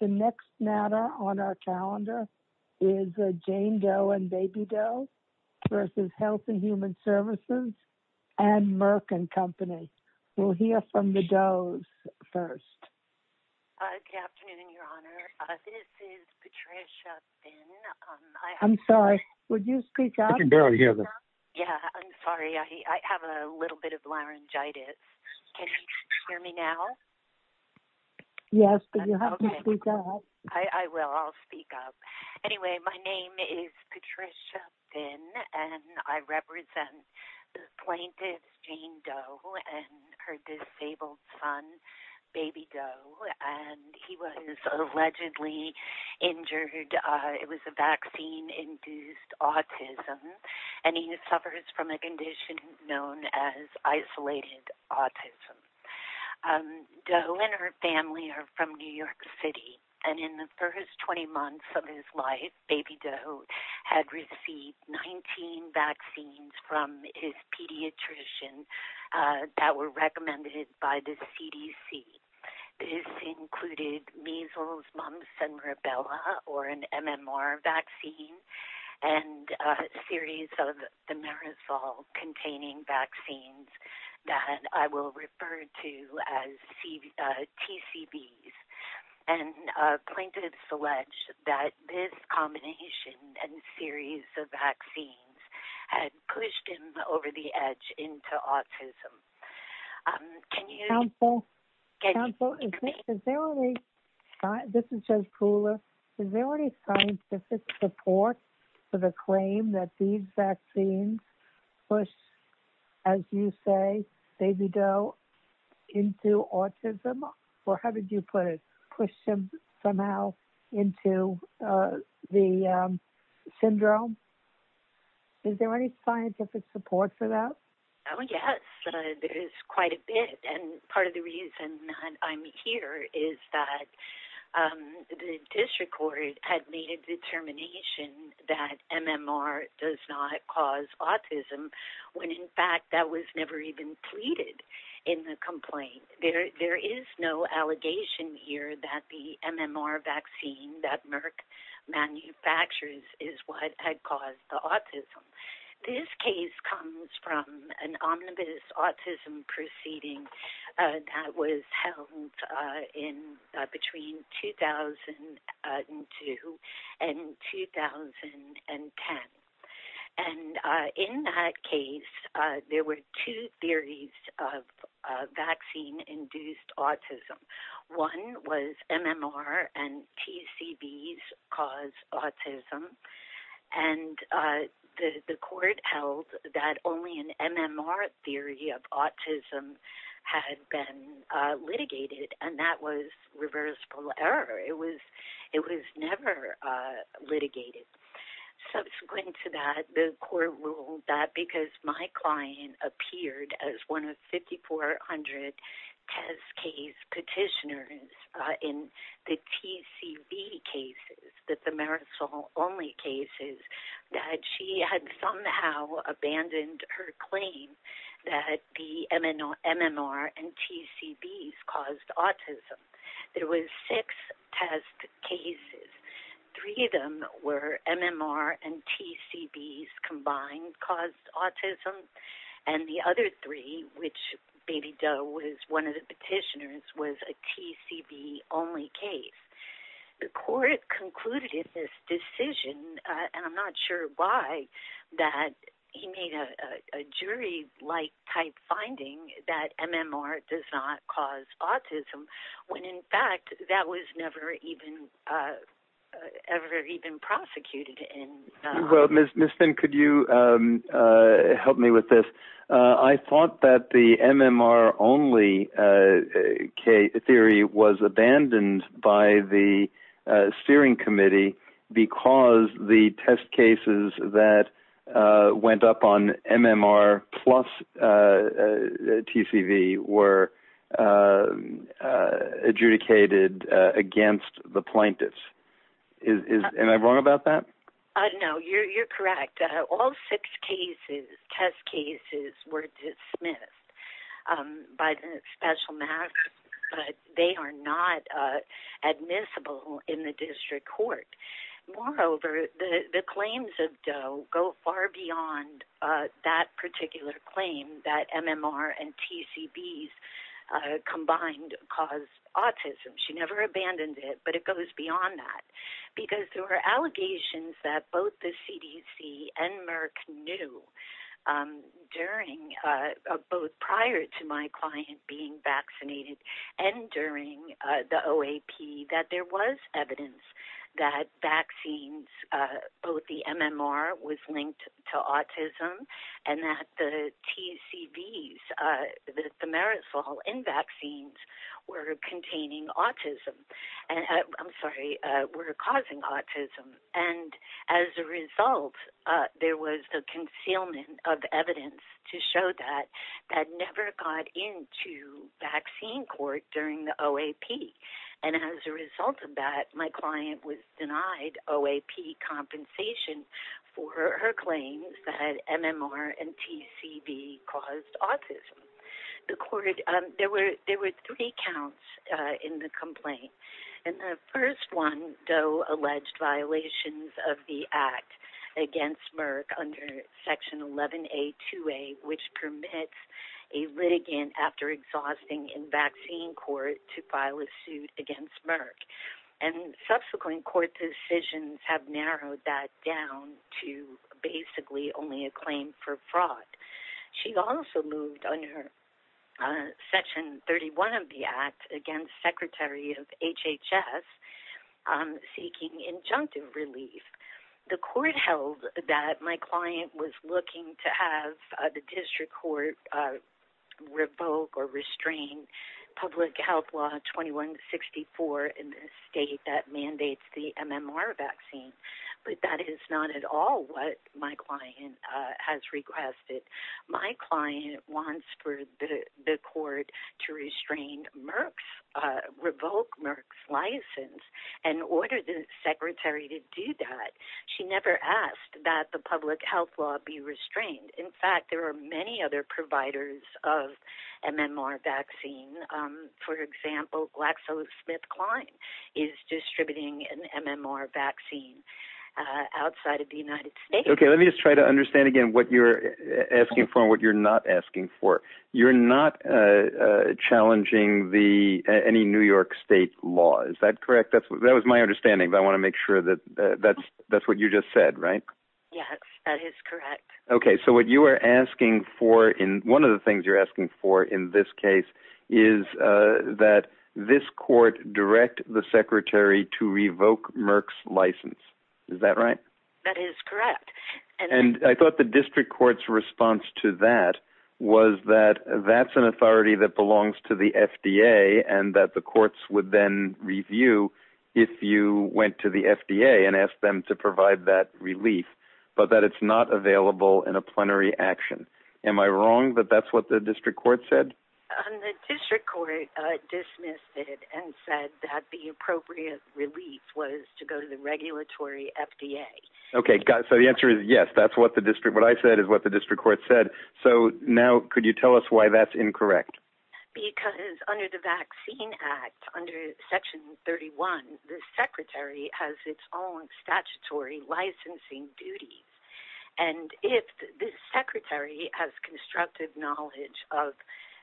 The next matter on our calendar is Jane Doe & Baby Doe v. Health & Human Services & Merck & Co. We'll hear from the Doe's first. Good afternoon, Your Honor. This is Patricia Finn. I'm sorry. Would you speak up? I can barely hear them. Yeah, I'm sorry. I have a little bit of laryngitis. Can you hear me now? Yes. Do you have me speak up? Okay. I will. I'll speak up. Anyway, my name is Patricia Finn, and I represent the plaintiff Jane Doe and her disabled son, Baby Doe, and he was allegedly injured. It was a vaccine-induced autism, and he suffers from a condition known as isolated autism. Doe and her family are from New York City, and in the first 20 months of his life, Baby Doe had received 19 vaccines from his pediatrician that were recommended by the CDC. This included measles, mumps, and rubella, or an MMR vaccine, and a series of the merosol-containing vaccines that I will refer to as TCBs. And plaintiffs allege that this combination and series of vaccines had pushed him over the edge into autism. Can you... Counsel, counsel, is there any... This is Judge Kuhler. Is there any scientific support for the claim that these vaccines push, as you say, Baby Doe into autism? Or how did you put it? Push him somehow into the syndrome? Is there any scientific support for that? Oh, yes. There is quite a bit, and part of the reason that I'm here is that the district court had made a determination that MMR does not cause autism, when in fact that was never even pleaded in the complaint. There is no allegation here that the MMR vaccine that Merck manufactures is what had caused the autism. This case comes from an omnibus autism proceeding that was held in between 2002 and 2010. And in that case, there were two theories of vaccine-induced autism. One was MMR and TCBs cause autism, and the court held that only an MMR theory of autism had been litigated, and that was reversible error. It was never litigated. Subsequent to that, the court ruled that because my client appeared as one of 5,400 test cases petitioners in the TCB cases, the Marisol-only cases, that she had somehow abandoned her claim that the MMR and TCBs caused autism. There were six test cases. Three of them were MMR and TCBs combined caused autism, and the other three, which Baby Doe was one of the petitioners, was a TCB-only case. The court concluded in this decision, and I'm not sure why, that he made a jury-like type finding that MMR does not cause autism, when in fact that was never even prosecuted. Well, Ms. Finn, could you help me with this? I thought that the MMR-only theory was abandoned by the steering committee because the test cases that went up on MMR plus TCB were adjudicated against the plaintiffs. Am I wrong about that? No, you're correct. All six test cases were dismissed by the special mask, but they are not admissible in the district court. Moreover, the claims of Doe go far beyond that particular claim that MMR and TCBs combined cause autism. She never abandoned it, but it goes beyond that because there were allegations that both the CDC and Merck knew, both prior to my client being vaccinated and during the OAP, that there was evidence that vaccines, both the MMR was linked to autism and that the result, there was a concealment of evidence to show that that never got into vaccine court during the OAP. And as a result of that, my client was denied OAP compensation for her claims that MMR and TCB caused autism. There were three counts in the complaint. And the first one, Doe alleged violations of the act against Merck under section 11A2A, which permits a litigant after exhausting in vaccine court to file a suit against Merck. And subsequent court decisions have narrowed that down to basically only a claim for fraud. She also moved under section 31 of the act against secretary of HHS seeking injunctive relief. The court held that my client was looking to have the district court revoke or restrain public health law 2164 in the state that mandates the MMR vaccine. But that is not at all what my client has requested. My client wants for the court to restrain Merck's, revoke Merck's license and order the secretary to do that. She never asked that the public health law be restrained. In fact, there are many other providers of MMR vaccine. For example, GlaxoSmithKline is distributing an MMR vaccine outside of the United States. Okay, let me just try to understand again what you're asking for and what you're not asking for. You're not challenging any New York state law. Is that correct? That was my understanding. But I want to make sure that that's what you just said, right? Yes, that is correct. Okay. So what you are asking for in one of the things you're asking for in this case is that this court direct the secretary to revoke Merck's license. Is that right? That is correct. And I thought the district court's response to that was that that's an authority that belongs to the FDA and that the courts would then review if you went to the FDA and asked them to provide that relief, but that it's not available in a plenary action. Am I wrong that that's what the district court said? The district court dismissed it and said that the appropriate relief was to go to the regulatory FDA. Okay. So the answer is yes, that's what the district, what I said is what the district court said. So now could you tell us why that's incorrect? Because under the Vaccine Act, under Section 31, the secretary has its own statutory licensing duties. And if the secretary has constructive knowledge of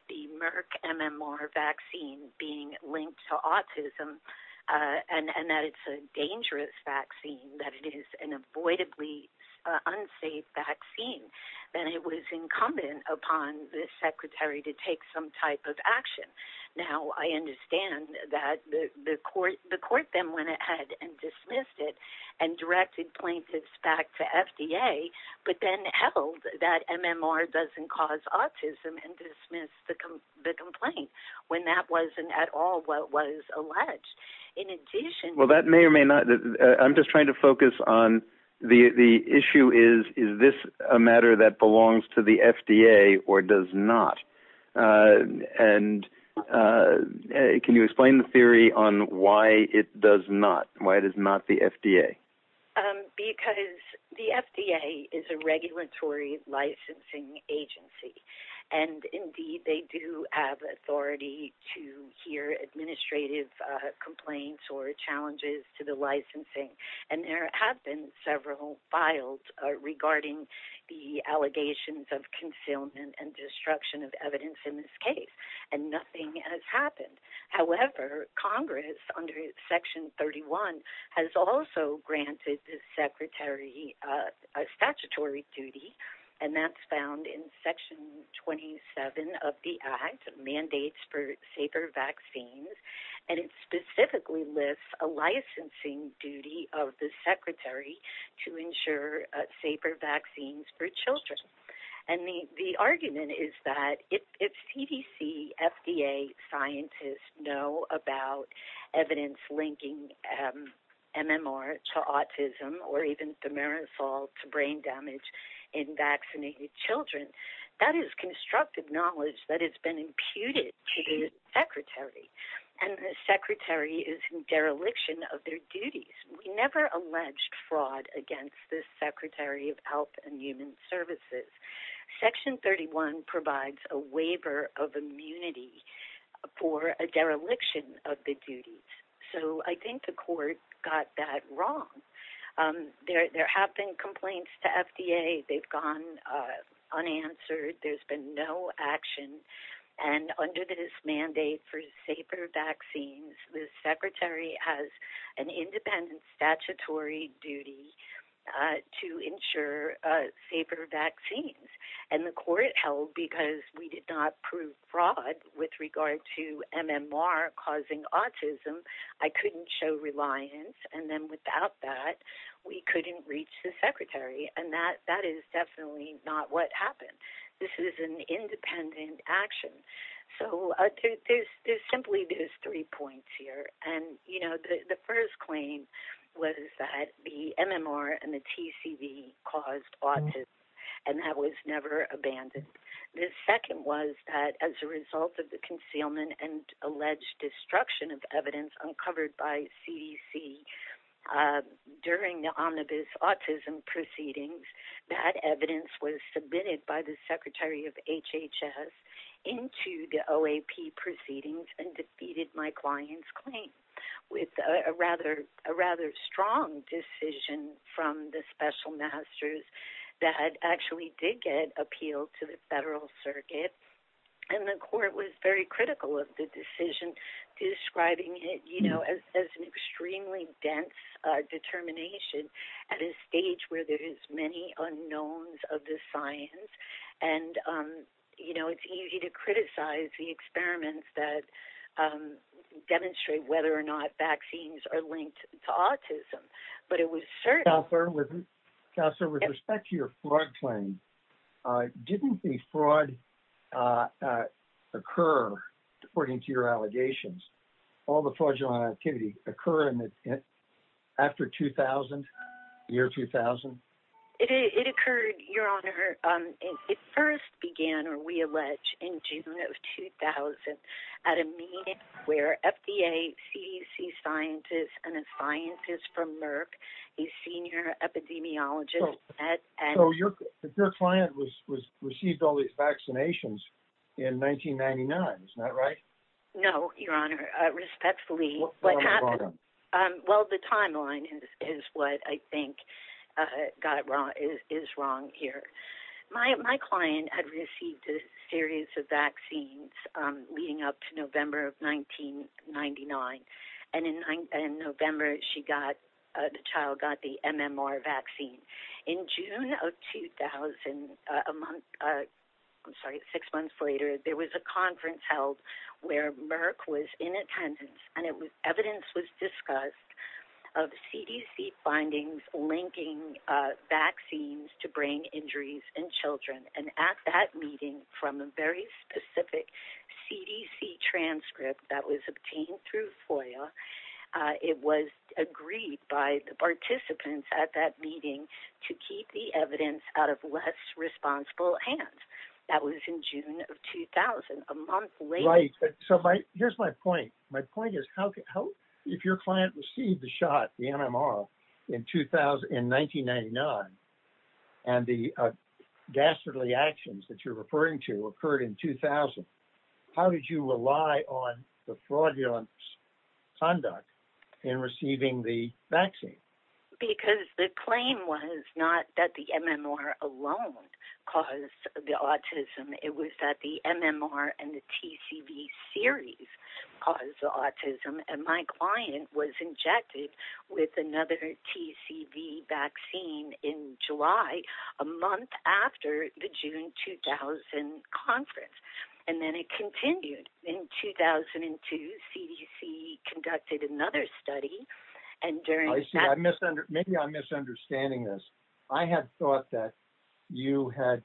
the Merck MMR vaccine being linked to autism and that it's a dangerous vaccine, that it is an avoidably unsafe vaccine, then it was Now, I understand that the court then went ahead and dismissed it and directed plaintiffs back to FDA, but then held that MMR doesn't cause autism and dismissed the complaint when that wasn't at all what was alleged. In addition to that, Well, that may or may not, I'm just trying to focus on the issue is, is this a matter that belongs to the FDA or does not? And can you explain the theory on why it does not, why it is not the FDA? Because the FDA is a regulatory licensing agency. And indeed, they do have authority to hear administrative complaints or challenges to the licensing. And there have been several files regarding the allegations of concealment and destruction of evidence in this case. And nothing has happened. However, Congress under Section 31 has also granted the secretary a statutory duty, and that's found in Section 27 of the Act, Mandates for Safer Vaccines. And it specifically lists a licensing duty of the secretary to ensure safer vaccines for children. And the argument is that if CDC, FDA scientists know about evidence linking MMR to autism, or even thimerosal to brain damage in vaccinated children, that is constructive knowledge that has been imputed to the secretary. And the secretary is in dereliction of their duties. We never alleged fraud against the Secretary of Health and Human Services. Section 31 provides a waiver of immunity for a dereliction of the duties. So I think the court got that wrong. There have been complaints to FDA. They've gone unanswered. There's been no action. And under this mandate for safer vaccines, the secretary has an independent statutory duty to ensure safer vaccines. And the court held because we did not prove fraud with regard to MMR causing autism. I couldn't show reliance. And then without that, we couldn't reach the secretary. And that is definitely not what happened. This is an independent action. So there's simply these three points here. And, you know, the first claim was that the MMR and the TCV caused autism, and that was never abandoned. The second was that as a result of the concealment and alleged destruction of evidence uncovered by CDC during the omnibus autism proceedings, that evidence was submitted by the secretary of HHS into the OAP proceedings and defeated my client's claim with a rather strong decision from the special masters that actually did get appealed to the federal circuit. And the court was very critical of the decision, describing it, you know, as an extremely dense determination at a stage where there is many unknowns of the science. And, you know, it's easy to criticize the experiments that demonstrate whether or not vaccines are linked to autism. But it was certain... Counselor, with respect to your fraud claim, didn't the fraud occur, according to your allegations, all the fraudulent activity occur after 2000, year 2000? It occurred, your honor. It first began, or we allege, in June of 2000 at a meeting where FDA, CDC scientists, and a scientist from Merck, a senior epidemiologist... So your client received all these vaccinations in 1999, isn't that right? No, your honor. Respectfully. What happened? Well, the timeline is what I think is wrong here. My client had received a series of vaccines leading up to November of 1999. And in November, the child got the MMR vaccine. In June of 2000, a month, I'm sorry, six months later, there was a conference held where Merck was in attendance, and evidence was discussed of CDC findings linking vaccines to brain injuries in children. And at that meeting, from a very specific CDC transcript that was obtained through FOIA, it was agreed by the participants at that meeting to keep the evidence out of less responsible hands. That was in June of 2000, a month later. Here's my point. My point is, if your client received the shot, the MMR, in 1999, and the ghastly actions that you're referring to occurred in 2000, how did you rely on the fraudulent conduct in receiving the vaccine? Because the claim was not that the MMR alone caused the autism. It was that the MMR and the TCV series caused the autism, and my client was injected with another TCV vaccine in July, a month after the June 2000 conference. And then it continued. In 2002, CDC conducted another study, and during that... I see. Maybe I'm misunderstanding this. I have thought that you had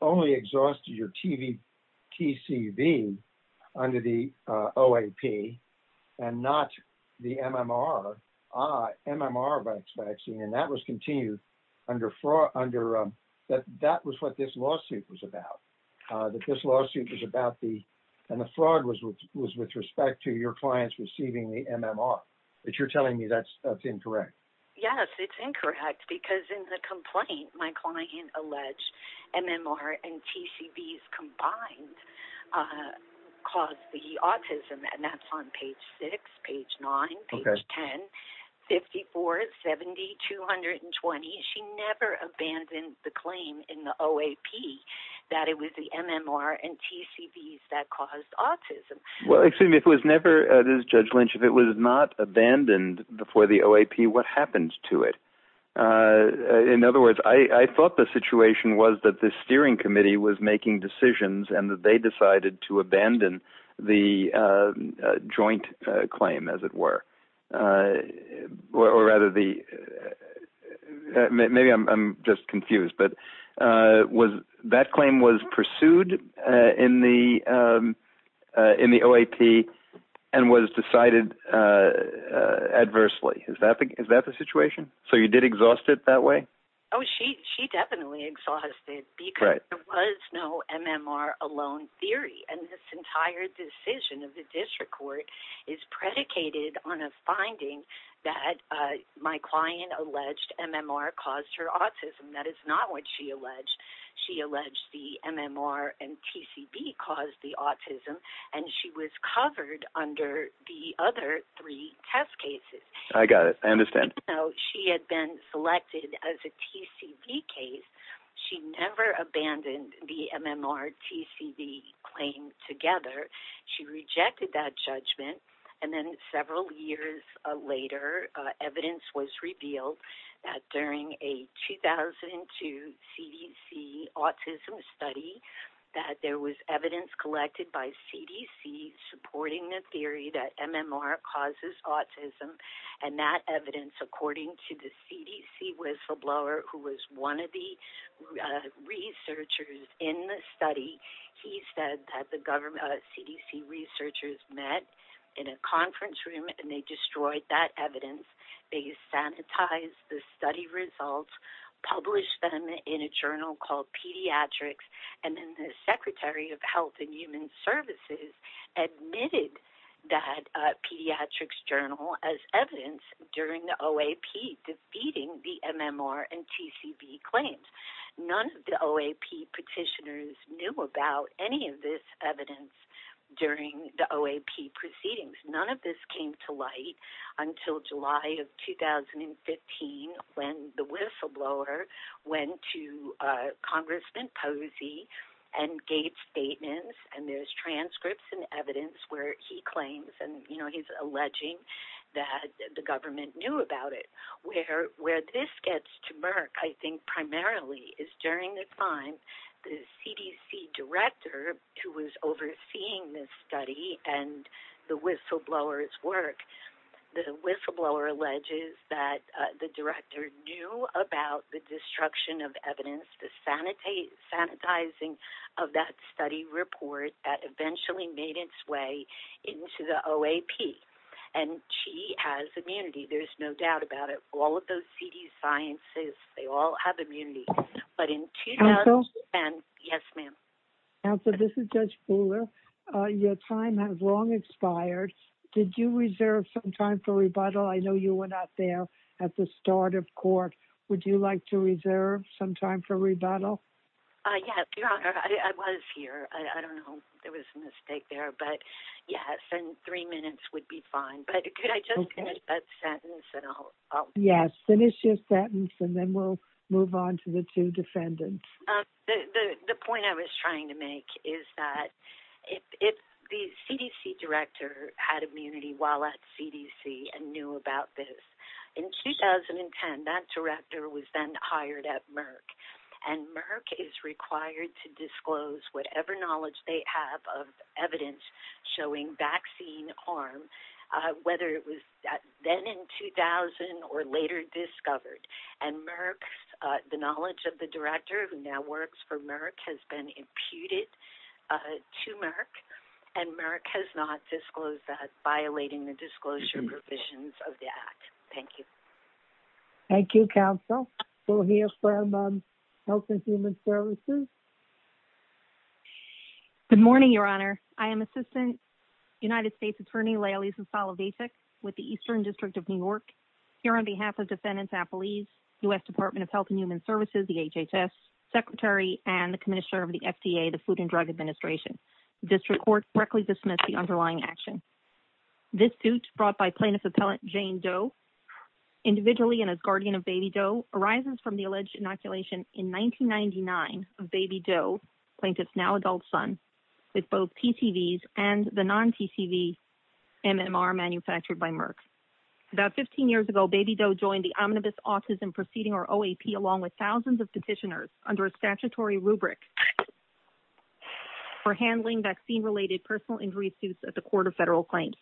only exhausted your TCV under the OAP, and not the MMR. Ah, MMR vaccine. And that was continued under... That was what this lawsuit was about. This lawsuit was about the... And the fraud was with respect to your clients receiving the MMR. But you're telling me that's incorrect. Yes, it's incorrect, because in the complaint, my client alleged MMR and TCVs combined caused the autism, and that's on page 6, page 9, page 10, 54, 70, 220. She never abandoned the claim in the OAP that it was the MMR and TCVs that caused autism. Well, excuse me. If it was never... This is Judge Lynch. If it was not abandoned before the OAP, what happened to it? In other words, I thought the situation was that the steering committee was making decisions, and that they decided to abandon the joint claim, as it were. Or rather the... Maybe I'm just confused, but that claim was pursued in the OAP and was decided adversely. Is that the situation? So you did exhaust it that way? Oh, she definitely exhausted it, because there was no MMR alone theory. And this entire decision of the district court is predicated on a finding that my client alleged MMR caused her autism. That is not what she alleged. She alleged the MMR and TCV caused the autism, and she was covered under the other three test cases. I got it. I understand. She had been selected as a TCV case. She never abandoned the MMR-TCV claim together. She rejected that judgment, and then several years later evidence was revealed that during a 2002 CDC autism study that there was evidence collected by CDC supporting the theory that MMR causes autism, and that evidence, according to the CDC whistleblower, who was one of the researchers in the study, he said that the CDC researchers met in a conference room, and they destroyed that evidence. They sanitized the study results, published them in a journal called Pediatrics, and then the Secretary of Health and Human Services admitted that Pediatrics journal as evidence during the OAP defeating the MMR and TCV claims. None of the OAP petitioners knew about any of this evidence during the OAP proceedings. None of this came to light until July of 2015 when the whistleblower went to Congressman Posey and gave statements, and there's transcripts and evidence where he claims, and he's alleging that the government knew about it. Where this gets to Merck, I think, primarily is during the time the CDC director, who was overseeing this study and the whistleblower's work, the whistleblower alleges that the director knew about the destruction of evidence, the sanitizing of that study report that eventually made its way into the OAP. And she has immunity, there's no doubt about it. All of those CDC scientists, they all have immunity. But in 20- Counsel? Yes, ma'am. Counsel, this is Judge Fuller. Your time has long expired. Did you reserve some time for rebuttal? I know you were not there at the start of court. Would you like to reserve some time for rebuttal? Yes, Your Honor, I was here. I don't know if there was a mistake there, but yes, and three minutes would be fine. But could I just finish that sentence and I'll- Yes, finish your sentence and then we'll move on to the two defendants. The point I was trying to make is that if the CDC director had immunity while at CDC and knew about this, in 2010, that director was then hired at Merck, and Merck is required to disclose whatever knowledge they have of evidence showing vaccine harm, whether it was then in 2000 or later discovered. And Merck, the knowledge of the director who now works for Merck has been imputed to Merck, and Merck has not disclosed that, violating the disclosure provisions of the act. Thank you. Thank you, Counsel. We'll hear from Health and Human Services. Good morning, Your Honor. I am Assistant United States Attorney Leilani Zasala-Vasek with the Eastern District of New York. Here on behalf of Defendants Appellees, U.S. Department of Health and Human Services, the HHS, Secretary, and the Commissioner of the FDA, the Food and Drug Administration, the District Court correctly dismiss the underlying action. This suit brought by Plaintiff Appellant Jane Doe, individually and as guardian of Baby Doe, arises from the alleged inoculation in 1999 of Baby Doe, Plaintiff's now adult son, with both TCVs and the non-TCV MMR manufactured by Merck. About 15 years ago, Baby Doe joined the Omnibus Autism Proceeding, or OAP, along with thousands of petitioners under a statutory rubric for handling vaccine-related personal injury suits at the Court of Federal Claims.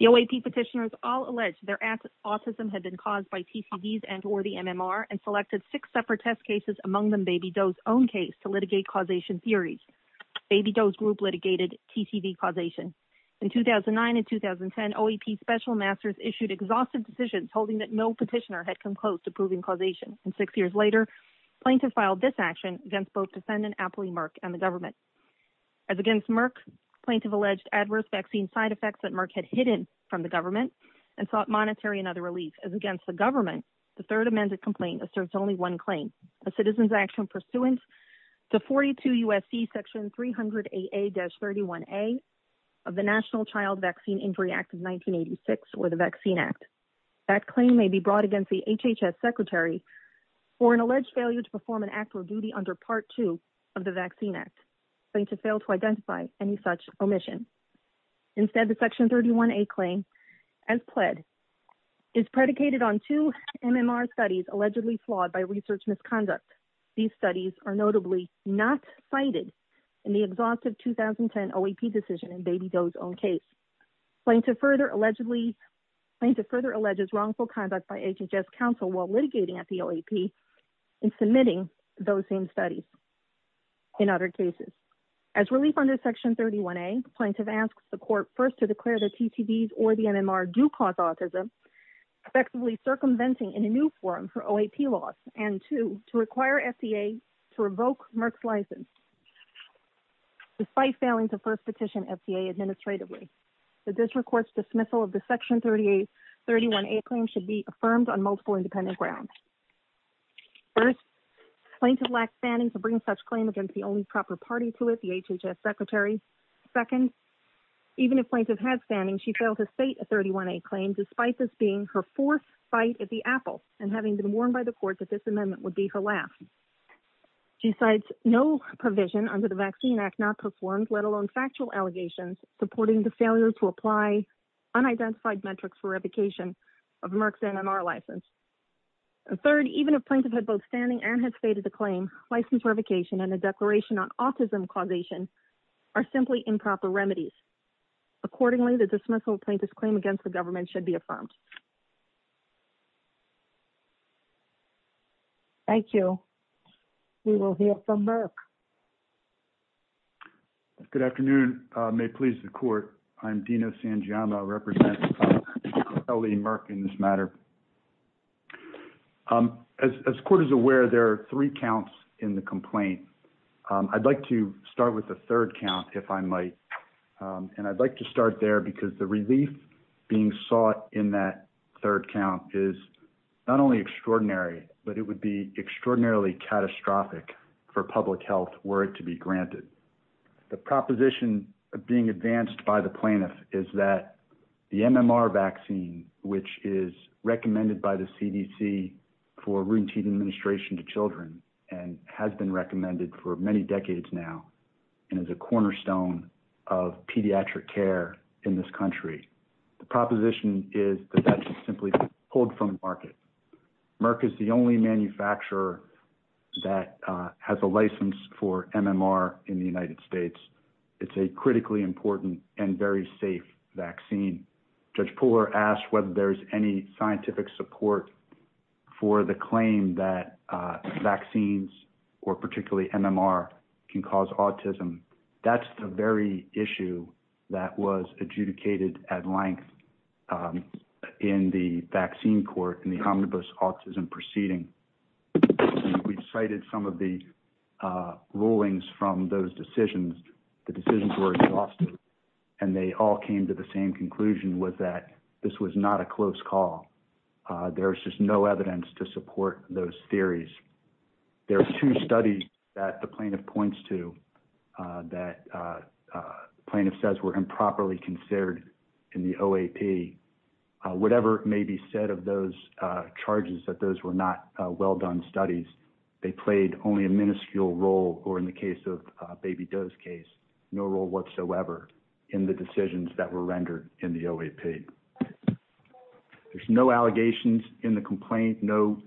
The OAP petitioners all alleged their autism had been caused by TCVs and or the MMR, and selected six separate test cases, among them Baby Doe's own case, to litigate causation theories. Baby Doe's group litigated TCV causation. In 2009 and 2010, OAP special masters issued exhaustive decisions holding that no petitioner had come close to proving causation. And six years later, Plaintiff filed this action against both Defendant Appellee Merck and the government. As against Merck, Plaintiff alleged adverse vaccine side effects that Merck had hidden from the government and sought monetary and other relief. As against the government, the third amended complaint asserts only one claim, a Citizens' Action pursuant to 42 U.S.C. Section 300AA-31A of the National Child Vaccine Injury Act of 1986, or the Vaccine Act. That claim may be brought against the HHS Secretary for an alleged failure to perform an act or duty under Part 2 of the Vaccine Act. Plaintiff failed to identify any such omission. Instead, the Section 31A claim, as pled, is predicated on two MMR studies allegedly flawed by research misconduct. These studies are notably not cited in the exhaustive 2010 OAP decision in Baby Doe's own case. Plaintiff further allegedly – Plaintiff further alleges wrongful conduct by HHS counsel while litigating at the OAP and submitting those same studies in other cases. As relief under Section 31A, Plaintiff asks the court first to declare that TTVs or the MMR do cause autism, effectively circumventing in a new forum for OAP laws, and two, to require FDA to revoke Merck's license, despite failing to first petition FDA administratively. The district court's dismissal of the Section 31A claim should be affirmed on multiple independent grounds. First, Plaintiff lacked standing to bring such claim against the only proper party to it, the HHS Secretary. Second, even if Plaintiff had standing, she failed to state a 31A claim, despite this being her fourth bite at the apple and having been warned by the court that this amendment would be her last. She cites no provision under the Vaccine Act not performed, let alone factual allegations, supporting the failure to apply unidentified metrics for revocation of Merck's MMR license. And third, even if Plaintiff had both standing and had stated the claim, license revocation and a declaration on autism causation are simply improper remedies. Accordingly, the dismissal of Plaintiff's claim against the government should be affirmed. Thank you. We will hear from Merck. Good afternoon. May it please the court. I'm Dino Sangiama, I represent L.A. Merck in this matter. As the court is aware, there are three counts in the complaint. I'd like to start with the third count, if I might. And I'd like to start there because the relief being sought in that third count is not only extraordinary, but it would be extraordinarily catastrophic for public health were it to be granted. The proposition of being advanced by the plaintiff is that the MMR vaccine, which is recommended by the CDC for routine administration to children, and has been recommended for many decades now, and is a cornerstone of pediatric care in this country. The proposition is that that should simply be pulled from the market. Merck is the only manufacturer that has a license for MMR in the United States. It's a critically important and very safe vaccine. Judge Poehler asked whether there's any scientific support for the claim that vaccines, or particularly MMR, can cause autism. That's the very issue that was adjudicated at length in the vaccine court in the omnibus autism proceeding. We've cited some of the rulings from those decisions. The decisions were exhausted, and they all came to the same conclusion was that this was not a close call. There's just no evidence to support those theories. There are two studies that the plaintiff points to that the plaintiff says were improperly considered in the OAP. Whatever may be said of those charges that those were not well done studies, they played only a minuscule role, or in the case of Baby Doe's case, no role whatsoever in the decisions that were rendered in the OAP. There's no allegations in the complaint, no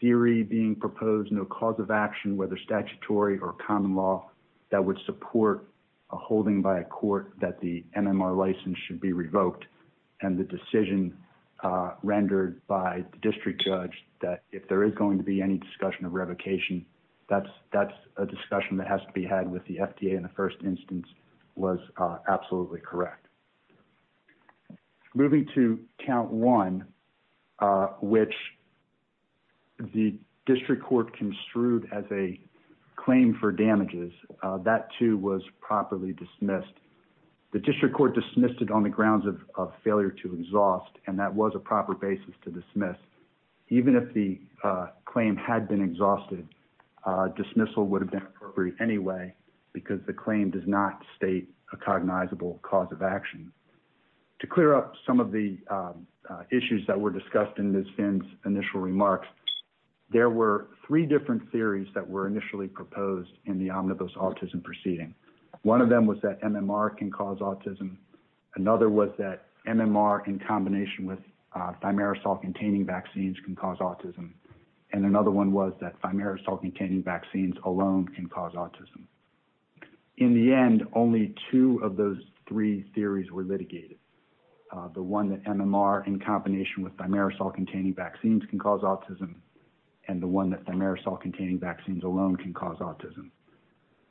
theory being proposed, no cause of action, whether statutory or common law, that would support a holding by a court that the MMR license should be revoked. And the decision rendered by the district judge that if there is going to be any discussion of revocation, that's a discussion that has to be had with the FDA in the first instance was absolutely correct. Moving to count one, which the district court construed as a claim for damages, that, too, was properly dismissed. The district court dismissed it on the grounds of failure to exhaust, and that was a proper basis to dismiss. Even if the claim had been exhausted, dismissal would have been appropriate anyway because the claim does not state a cognizable cause of action. To clear up some of the issues that were discussed in Ms. Finn's initial remarks, there were three different theories that were initially proposed in the omnibus autism proceeding. One of them was that MMR can cause autism. Another was that MMR in combination with thimerosal-containing vaccines can cause autism. And another one was that thimerosal-containing vaccines alone can cause autism. In the end, only two of those three theories were litigated, the one that MMR in combination with thimerosal-containing vaccines can cause autism and the one that thimerosal-containing vaccines alone can cause autism.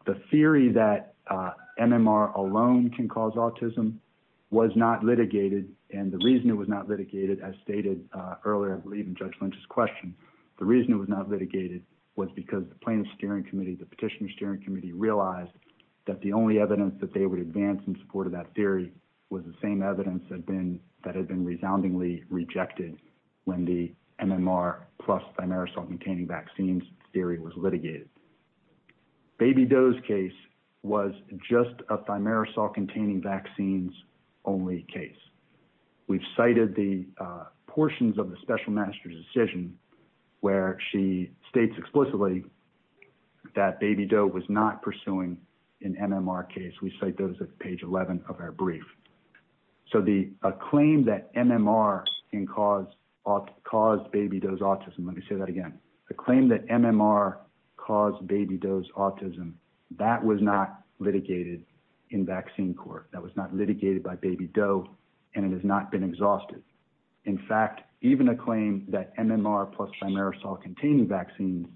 The theory that MMR alone can cause autism was not litigated, and the reason it was not litigated, as stated earlier in Judge Lynch's question, the reason it was not litigated was because the plaintiff's steering committee, the petitioner's steering committee, realized that the only evidence that they would advance in support of that theory was the same evidence that had been resoundingly rejected when the MMR plus thimerosal-containing vaccines theory was litigated. Baby Doe's case was just a thimerosal-containing vaccines only case. We've cited the portions of the special magistrate's decision where she states explicitly that Baby Doe was not pursuing an MMR case. We cite those at page 11 of our brief. So a claim that MMR caused Baby Doe's autism, let me say that again, a claim that MMR caused Baby Doe's autism, that was not litigated in vaccine court. That was not litigated by Baby Doe, and it has not been exhausted. In fact, even a claim that MMR plus thimerosal-containing vaccines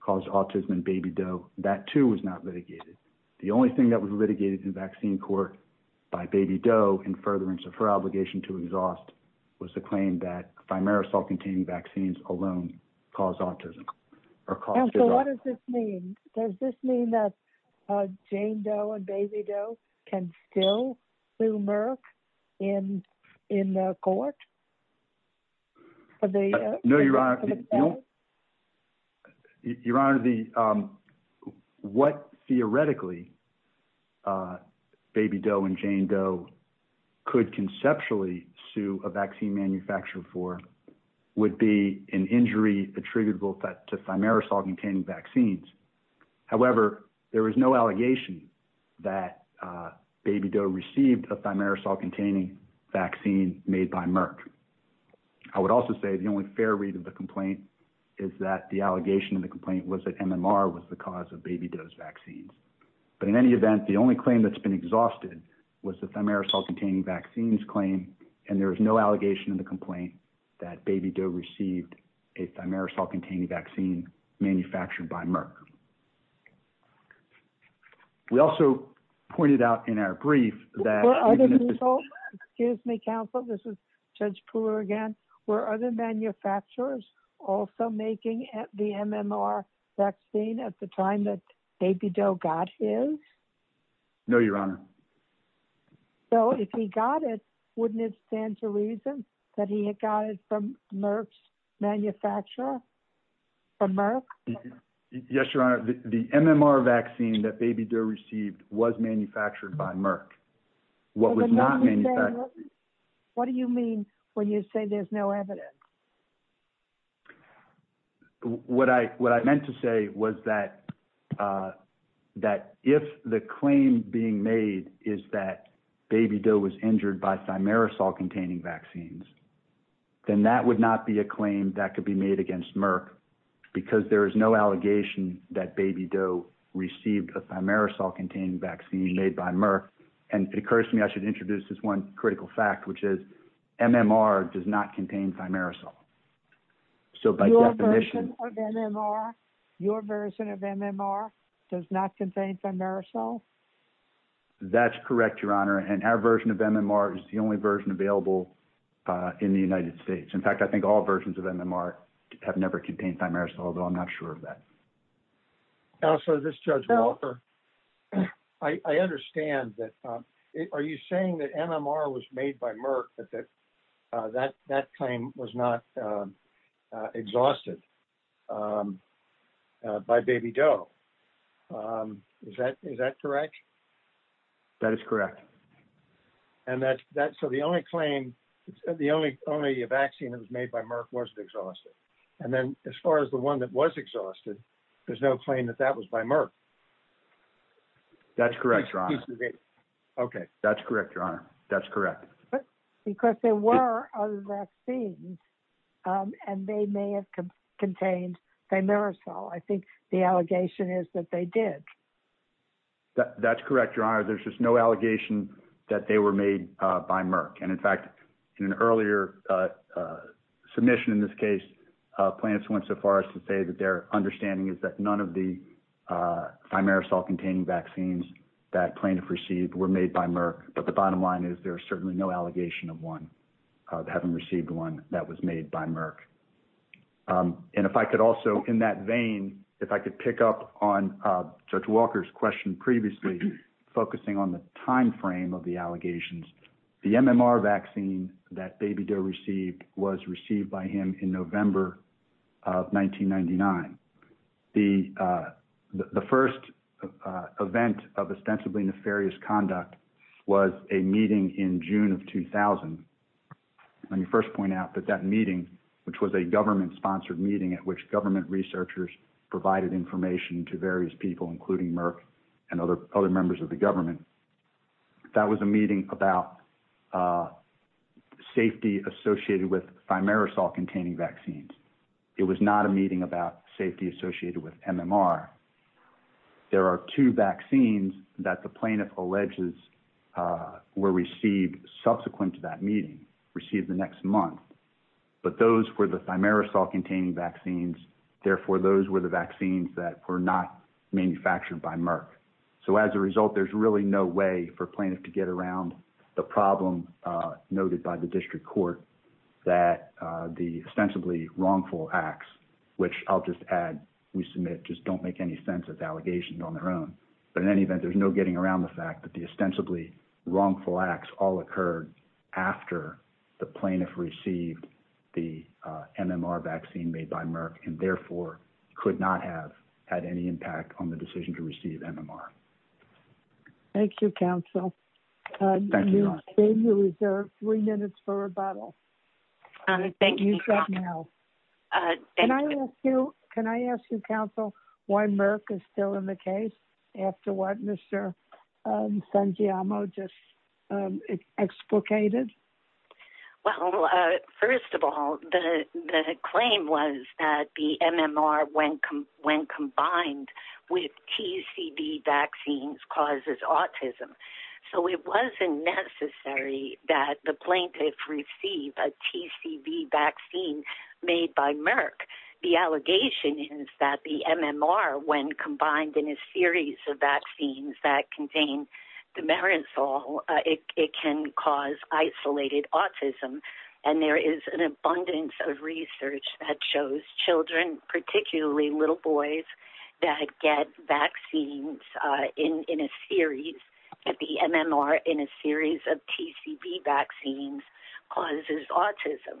caused autism in Baby Doe, that too was not litigated. The only thing that was litigated in vaccine court by Baby Doe in furtherance of her obligation to exhaust was the claim that thimerosal-containing vaccines alone caused autism. So what does this mean? Does this mean that Jane Doe and Baby Doe can still do MMR in the court? No, Your Honor. Your Honor, what theoretically Baby Doe and Jane Doe could conceptually sue a vaccine manufacturer for would be an injury attributable to thimerosal-containing vaccines. However, there is no allegation that Baby Doe received a thimerosal-containing vaccine made by Merck. I would also say the only fair read of the complaint is that the allegation in the complaint was that MMR was the cause of Baby Doe's vaccines. But in any event, the only claim that's been exhausted was the thimerosal-containing vaccines claim. And there is no allegation in the complaint that Baby Doe received a thimerosal-containing vaccine manufactured by Merck. We also pointed out in our brief that... Were other manufacturers also making the MMR vaccine at the time that Baby Doe got his? No, Your Honor. So if he got it, wouldn't it stand to reason that he had got it from Merck's manufacturer? Yes, Your Honor. The MMR vaccine that Baby Doe received was manufactured by Merck. What was not manufactured... What do you mean when you say there's no evidence? What I meant to say was that if the claim being made is that Baby Doe was injured by thimerosal-containing vaccines, then that would not be a claim that could be made against Merck because there is no allegation that Baby Doe received a thimerosal-containing vaccine made by Merck. And it occurs to me I should introduce this one critical fact, which is MMR does not contain thimerosal. So by definition... Your version of MMR does not contain thimerosal? That's correct, Your Honor. And our version of MMR is the only version available in the United States. In fact, I think all versions of MMR have never contained thimerosal, although I'm not sure of that. Counselor, this is Judge Walker. I understand that... Are you saying that MMR was made by Merck, but that that claim was not exhausted by Baby Doe? Is that correct? That is correct. And so the only claim... The only vaccine that was made by Merck wasn't exhausted. And then as far as the one that was exhausted, there's no claim that that was by Merck. That's correct, Your Honor. Okay. That's correct, Your Honor. That's correct. Because there were other vaccines, and they may have contained thimerosal. I think the allegation is that they did. That's correct, Your Honor. There's just no allegation that they were made by Merck. And, in fact, in an earlier submission in this case, plaintiffs went so far as to say that their understanding is that none of the thimerosal-containing vaccines that plaintiffs received were made by Merck. But the bottom line is there's certainly no allegation of one, of having received one, that was made by Merck. And if I could also, in that vein, if I could pick up on Judge Walker's question previously, focusing on the timeframe of the allegations, the MMR vaccine that Baby Doe received was received by him in November of 1999. The first event of ostensibly nefarious conduct was a meeting in June of 2000. Let me first point out that that meeting, which was a government-sponsored meeting at which government researchers provided information to various people, including Merck and other members of the government, that was a meeting about safety associated with thimerosal-containing vaccines. It was not a meeting about safety associated with MMR. There are two vaccines that the plaintiff alleges were received subsequent to that meeting, received the next month. But those were the thimerosal-containing vaccines. Therefore, those were the vaccines that were not manufactured by Merck. So as a result, there's really no way for plaintiff to get around the problem noted by the district court that the ostensibly wrongful acts, which I'll just add, we submit just don't make any sense as allegations on their own. But in any event, there's no getting around the fact that the ostensibly wrongful acts all occurred after the plaintiff received the MMR vaccine made by Merck and therefore could not have had any impact on the decision to receive MMR. Thank you, counsel. You have three minutes for rebuttal. Thank you. Can I ask you, counsel, why Merck is still in the case after what Mr. Sanjiamo just explicated? Well, first of all, the claim was that the MMR, when combined with TCV vaccines, causes autism. So it wasn't necessary that the plaintiff receive a TCV vaccine made by Merck. The allegation is that the MMR, when combined in a series of vaccines that contain dimerazole, it can cause isolated autism. And there is an abundance of research that shows children, particularly little boys, that get vaccines in a series, that the MMR in a series of TCV vaccines causes autism.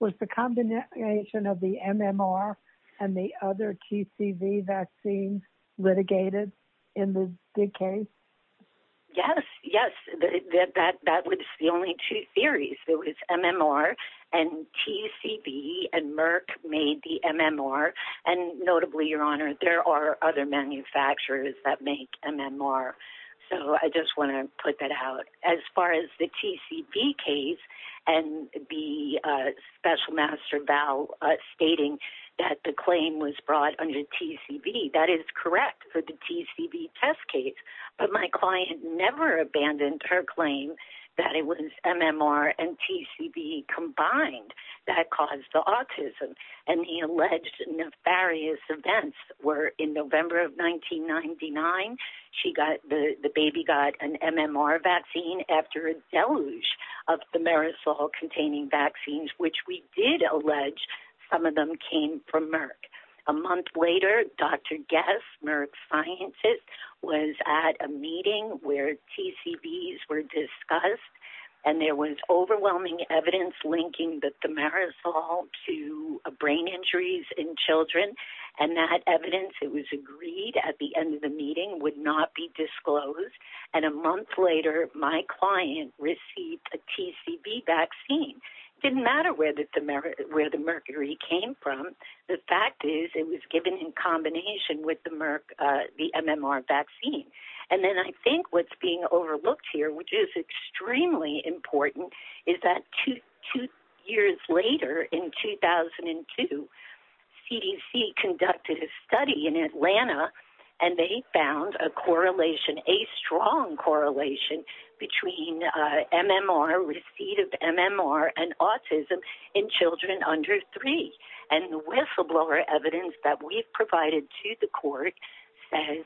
Was the combination of the MMR and the other TCV vaccines litigated in the case? Yes, yes. That was the only two theories. It was MMR and TCV and Merck made the MMR. And notably, Your Honor, there are other manufacturers that make MMR. So I just want to put that out. As far as the TCV case and the special master vow stating that the claim was brought under TCV, that is correct for the TCV test case. But my client never abandoned her claim that it was MMR and TCV combined that caused the autism. And the alleged nefarious events were in November of 1999, the baby got an MMR vaccine after a deluge of dimerazole containing vaccines, which we did allege some of them came from Merck. A month later, Dr. Guess, Merck's scientist, was at a meeting where TCVs were discussed. And there was overwhelming evidence linking the dimerazole to brain injuries in children. And that evidence, it was agreed at the end of the meeting would not be disclosed. And a month later, my client received a TCV vaccine. It didn't matter where the mercury came from. The fact is it was given in combination with the MMR vaccine. And then I think what's being overlooked here, which is extremely important, is that two years later, in 2002, CDC conducted a study in Atlanta. And they found a correlation, a strong correlation between MMR, receipt of MMR and autism in children under three. And the whistleblower evidence that we've provided to the court says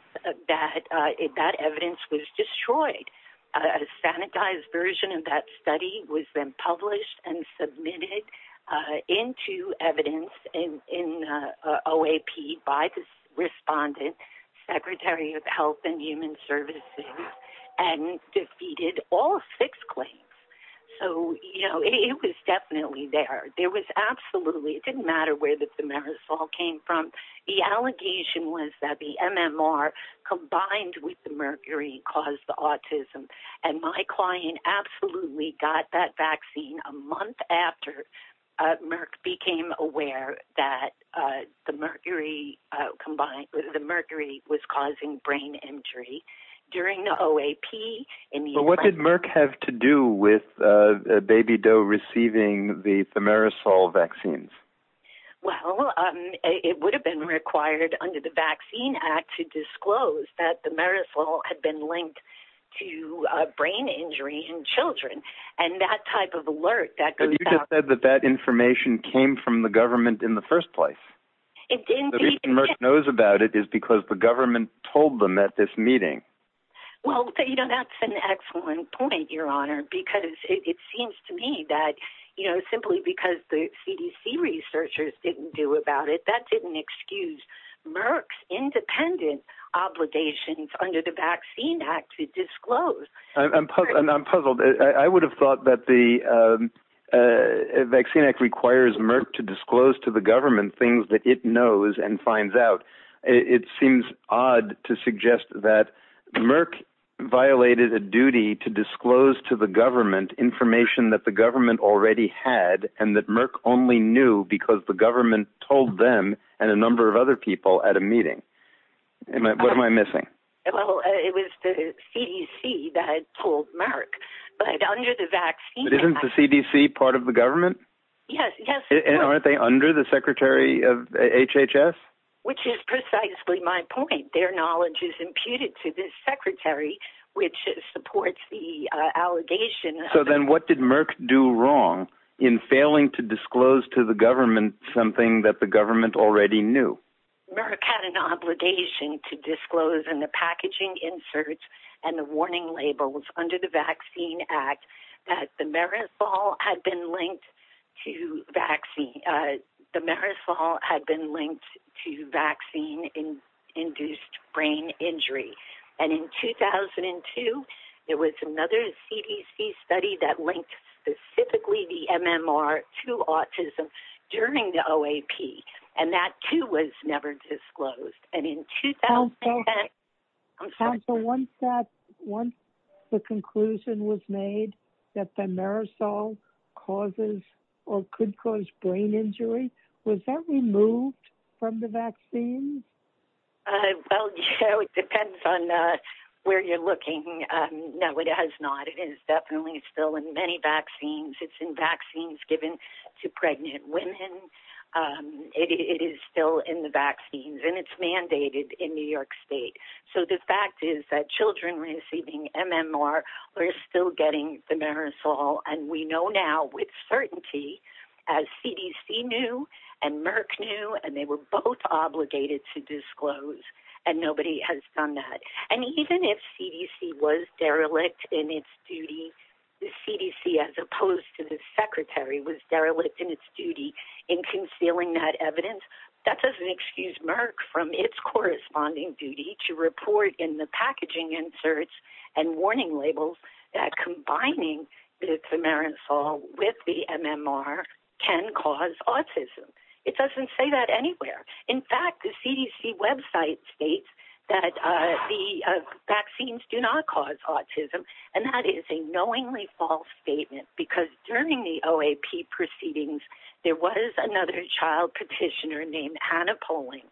that that evidence was destroyed. A sanitized version of that study was then published and submitted into evidence in OAP by the respondent, Secretary of Health and Human Services, and defeated all six claims. So, you know, it was definitely there. There was absolutely, it didn't matter where the dimerazole came from. The allegation was that the MMR combined with the mercury caused the autism. And my client absolutely got that vaccine a month after Merck became aware that the mercury was causing brain injury. But what did Merck have to do with Baby Doe receiving the dimerazole vaccines? Well, it would have been required under the Vaccine Act to disclose that the dimerazole had been linked to brain injury in children. And that type of alert that goes out. But you just said that that information came from the government in the first place. The reason Merck knows about it is because the government told them at this meeting. Well, you know, that's an excellent point, Your Honor, because it seems to me that, you know, simply because the CDC researchers didn't do about it, that didn't excuse Merck's independent obligations under the Vaccine Act to disclose. I'm puzzled. I would have thought that the Vaccine Act requires Merck to disclose to the government things that it knows and finds out. It seems odd to suggest that Merck violated a duty to disclose to the government information that the government already had, and that Merck only knew because the government told them and a number of other people at a meeting. What am I missing? Well, it was the CDC that told Merck. But under the Vaccine Act... But isn't the CDC part of the government? Yes, yes. And aren't they under the secretary of HHS? Which is precisely my point. Their knowledge is imputed to this secretary, which supports the allegation. So then what did Merck do wrong in failing to disclose to the government something that the government already knew? Merck had an obligation to disclose in the packaging inserts and the warning labels under the Vaccine Act that the Marisol had been linked to vaccine-induced brain injury. And in 2002, there was another CDC study that linked specifically the MMR to autism during the OAP. And that, too, was never disclosed. And in 2010... Counsel, once the conclusion was made that the Marisol causes or could cause brain injury, was that removed from the vaccine? Well, it depends on where you're looking. No, it has not. It is definitely still in many vaccines. It's in vaccines given to pregnant women. It is still in the vaccines, and it's mandated in New York State. So the fact is that children receiving MMR are still getting the Marisol. And we know now with certainty, as CDC knew and Merck knew, and they were both obligated to disclose, and nobody has done that. And even if CDC was derelict in its duty, the CDC, as opposed to the secretary, was derelict in its duty in concealing that evidence, that doesn't excuse Merck from its corresponding duty to report in the packaging inserts and warning labels that combining the Marisol with the MMR can cause autism. It doesn't say that anywhere. In fact, the CDC website states that the vaccines do not cause autism, and that is a knowingly false statement, because during the OAP proceedings, there was another child petitioner named Hannah Poling.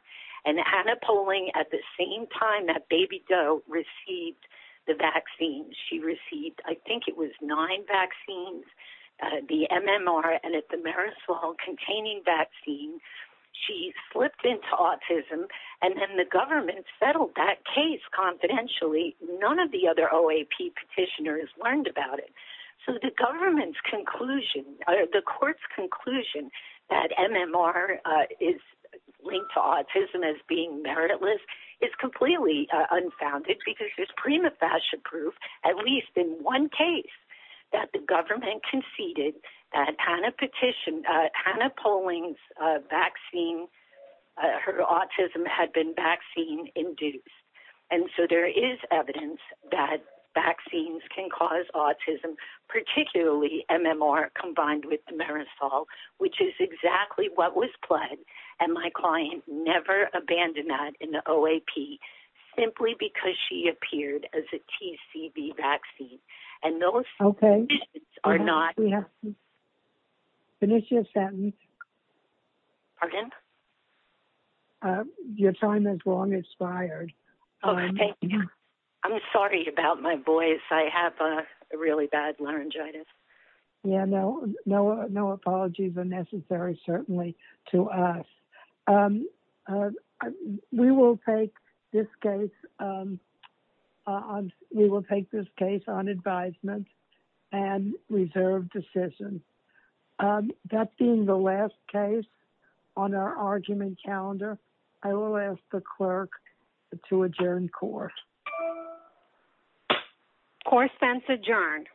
And Hannah Poling, at the same time that baby Doe received the vaccine, she received, I think it was nine vaccines, the MMR and the Marisol-containing vaccine. She slipped into autism, and then the government settled that case confidentially. None of the other OAP petitioners learned about it. So, the government's conclusion, or the court's conclusion, that MMR is linked to autism as being meritless is completely unfounded, because there's prima facie proof, at least in one case, that the government conceded that Hannah petitioned, Hannah Poling's vaccine, her autism had been vaccine-induced. And so, there is evidence that vaccines can cause autism, particularly MMR combined with Marisol, which is exactly what was pledged. And my client never abandoned that in the OAP, simply because she appeared as a TCV vaccine. Okay. We have to finish your sentence. Pardon? Your time has long expired. Oh, thank you. I'm sorry about my voice. I have a really bad laryngitis. Yeah, no apologies are necessary, certainly, to us. We will take this case on advisement and reserve decisions. That being the last case on our argument calendar, I will ask the clerk to adjourn court. Court is adjourned.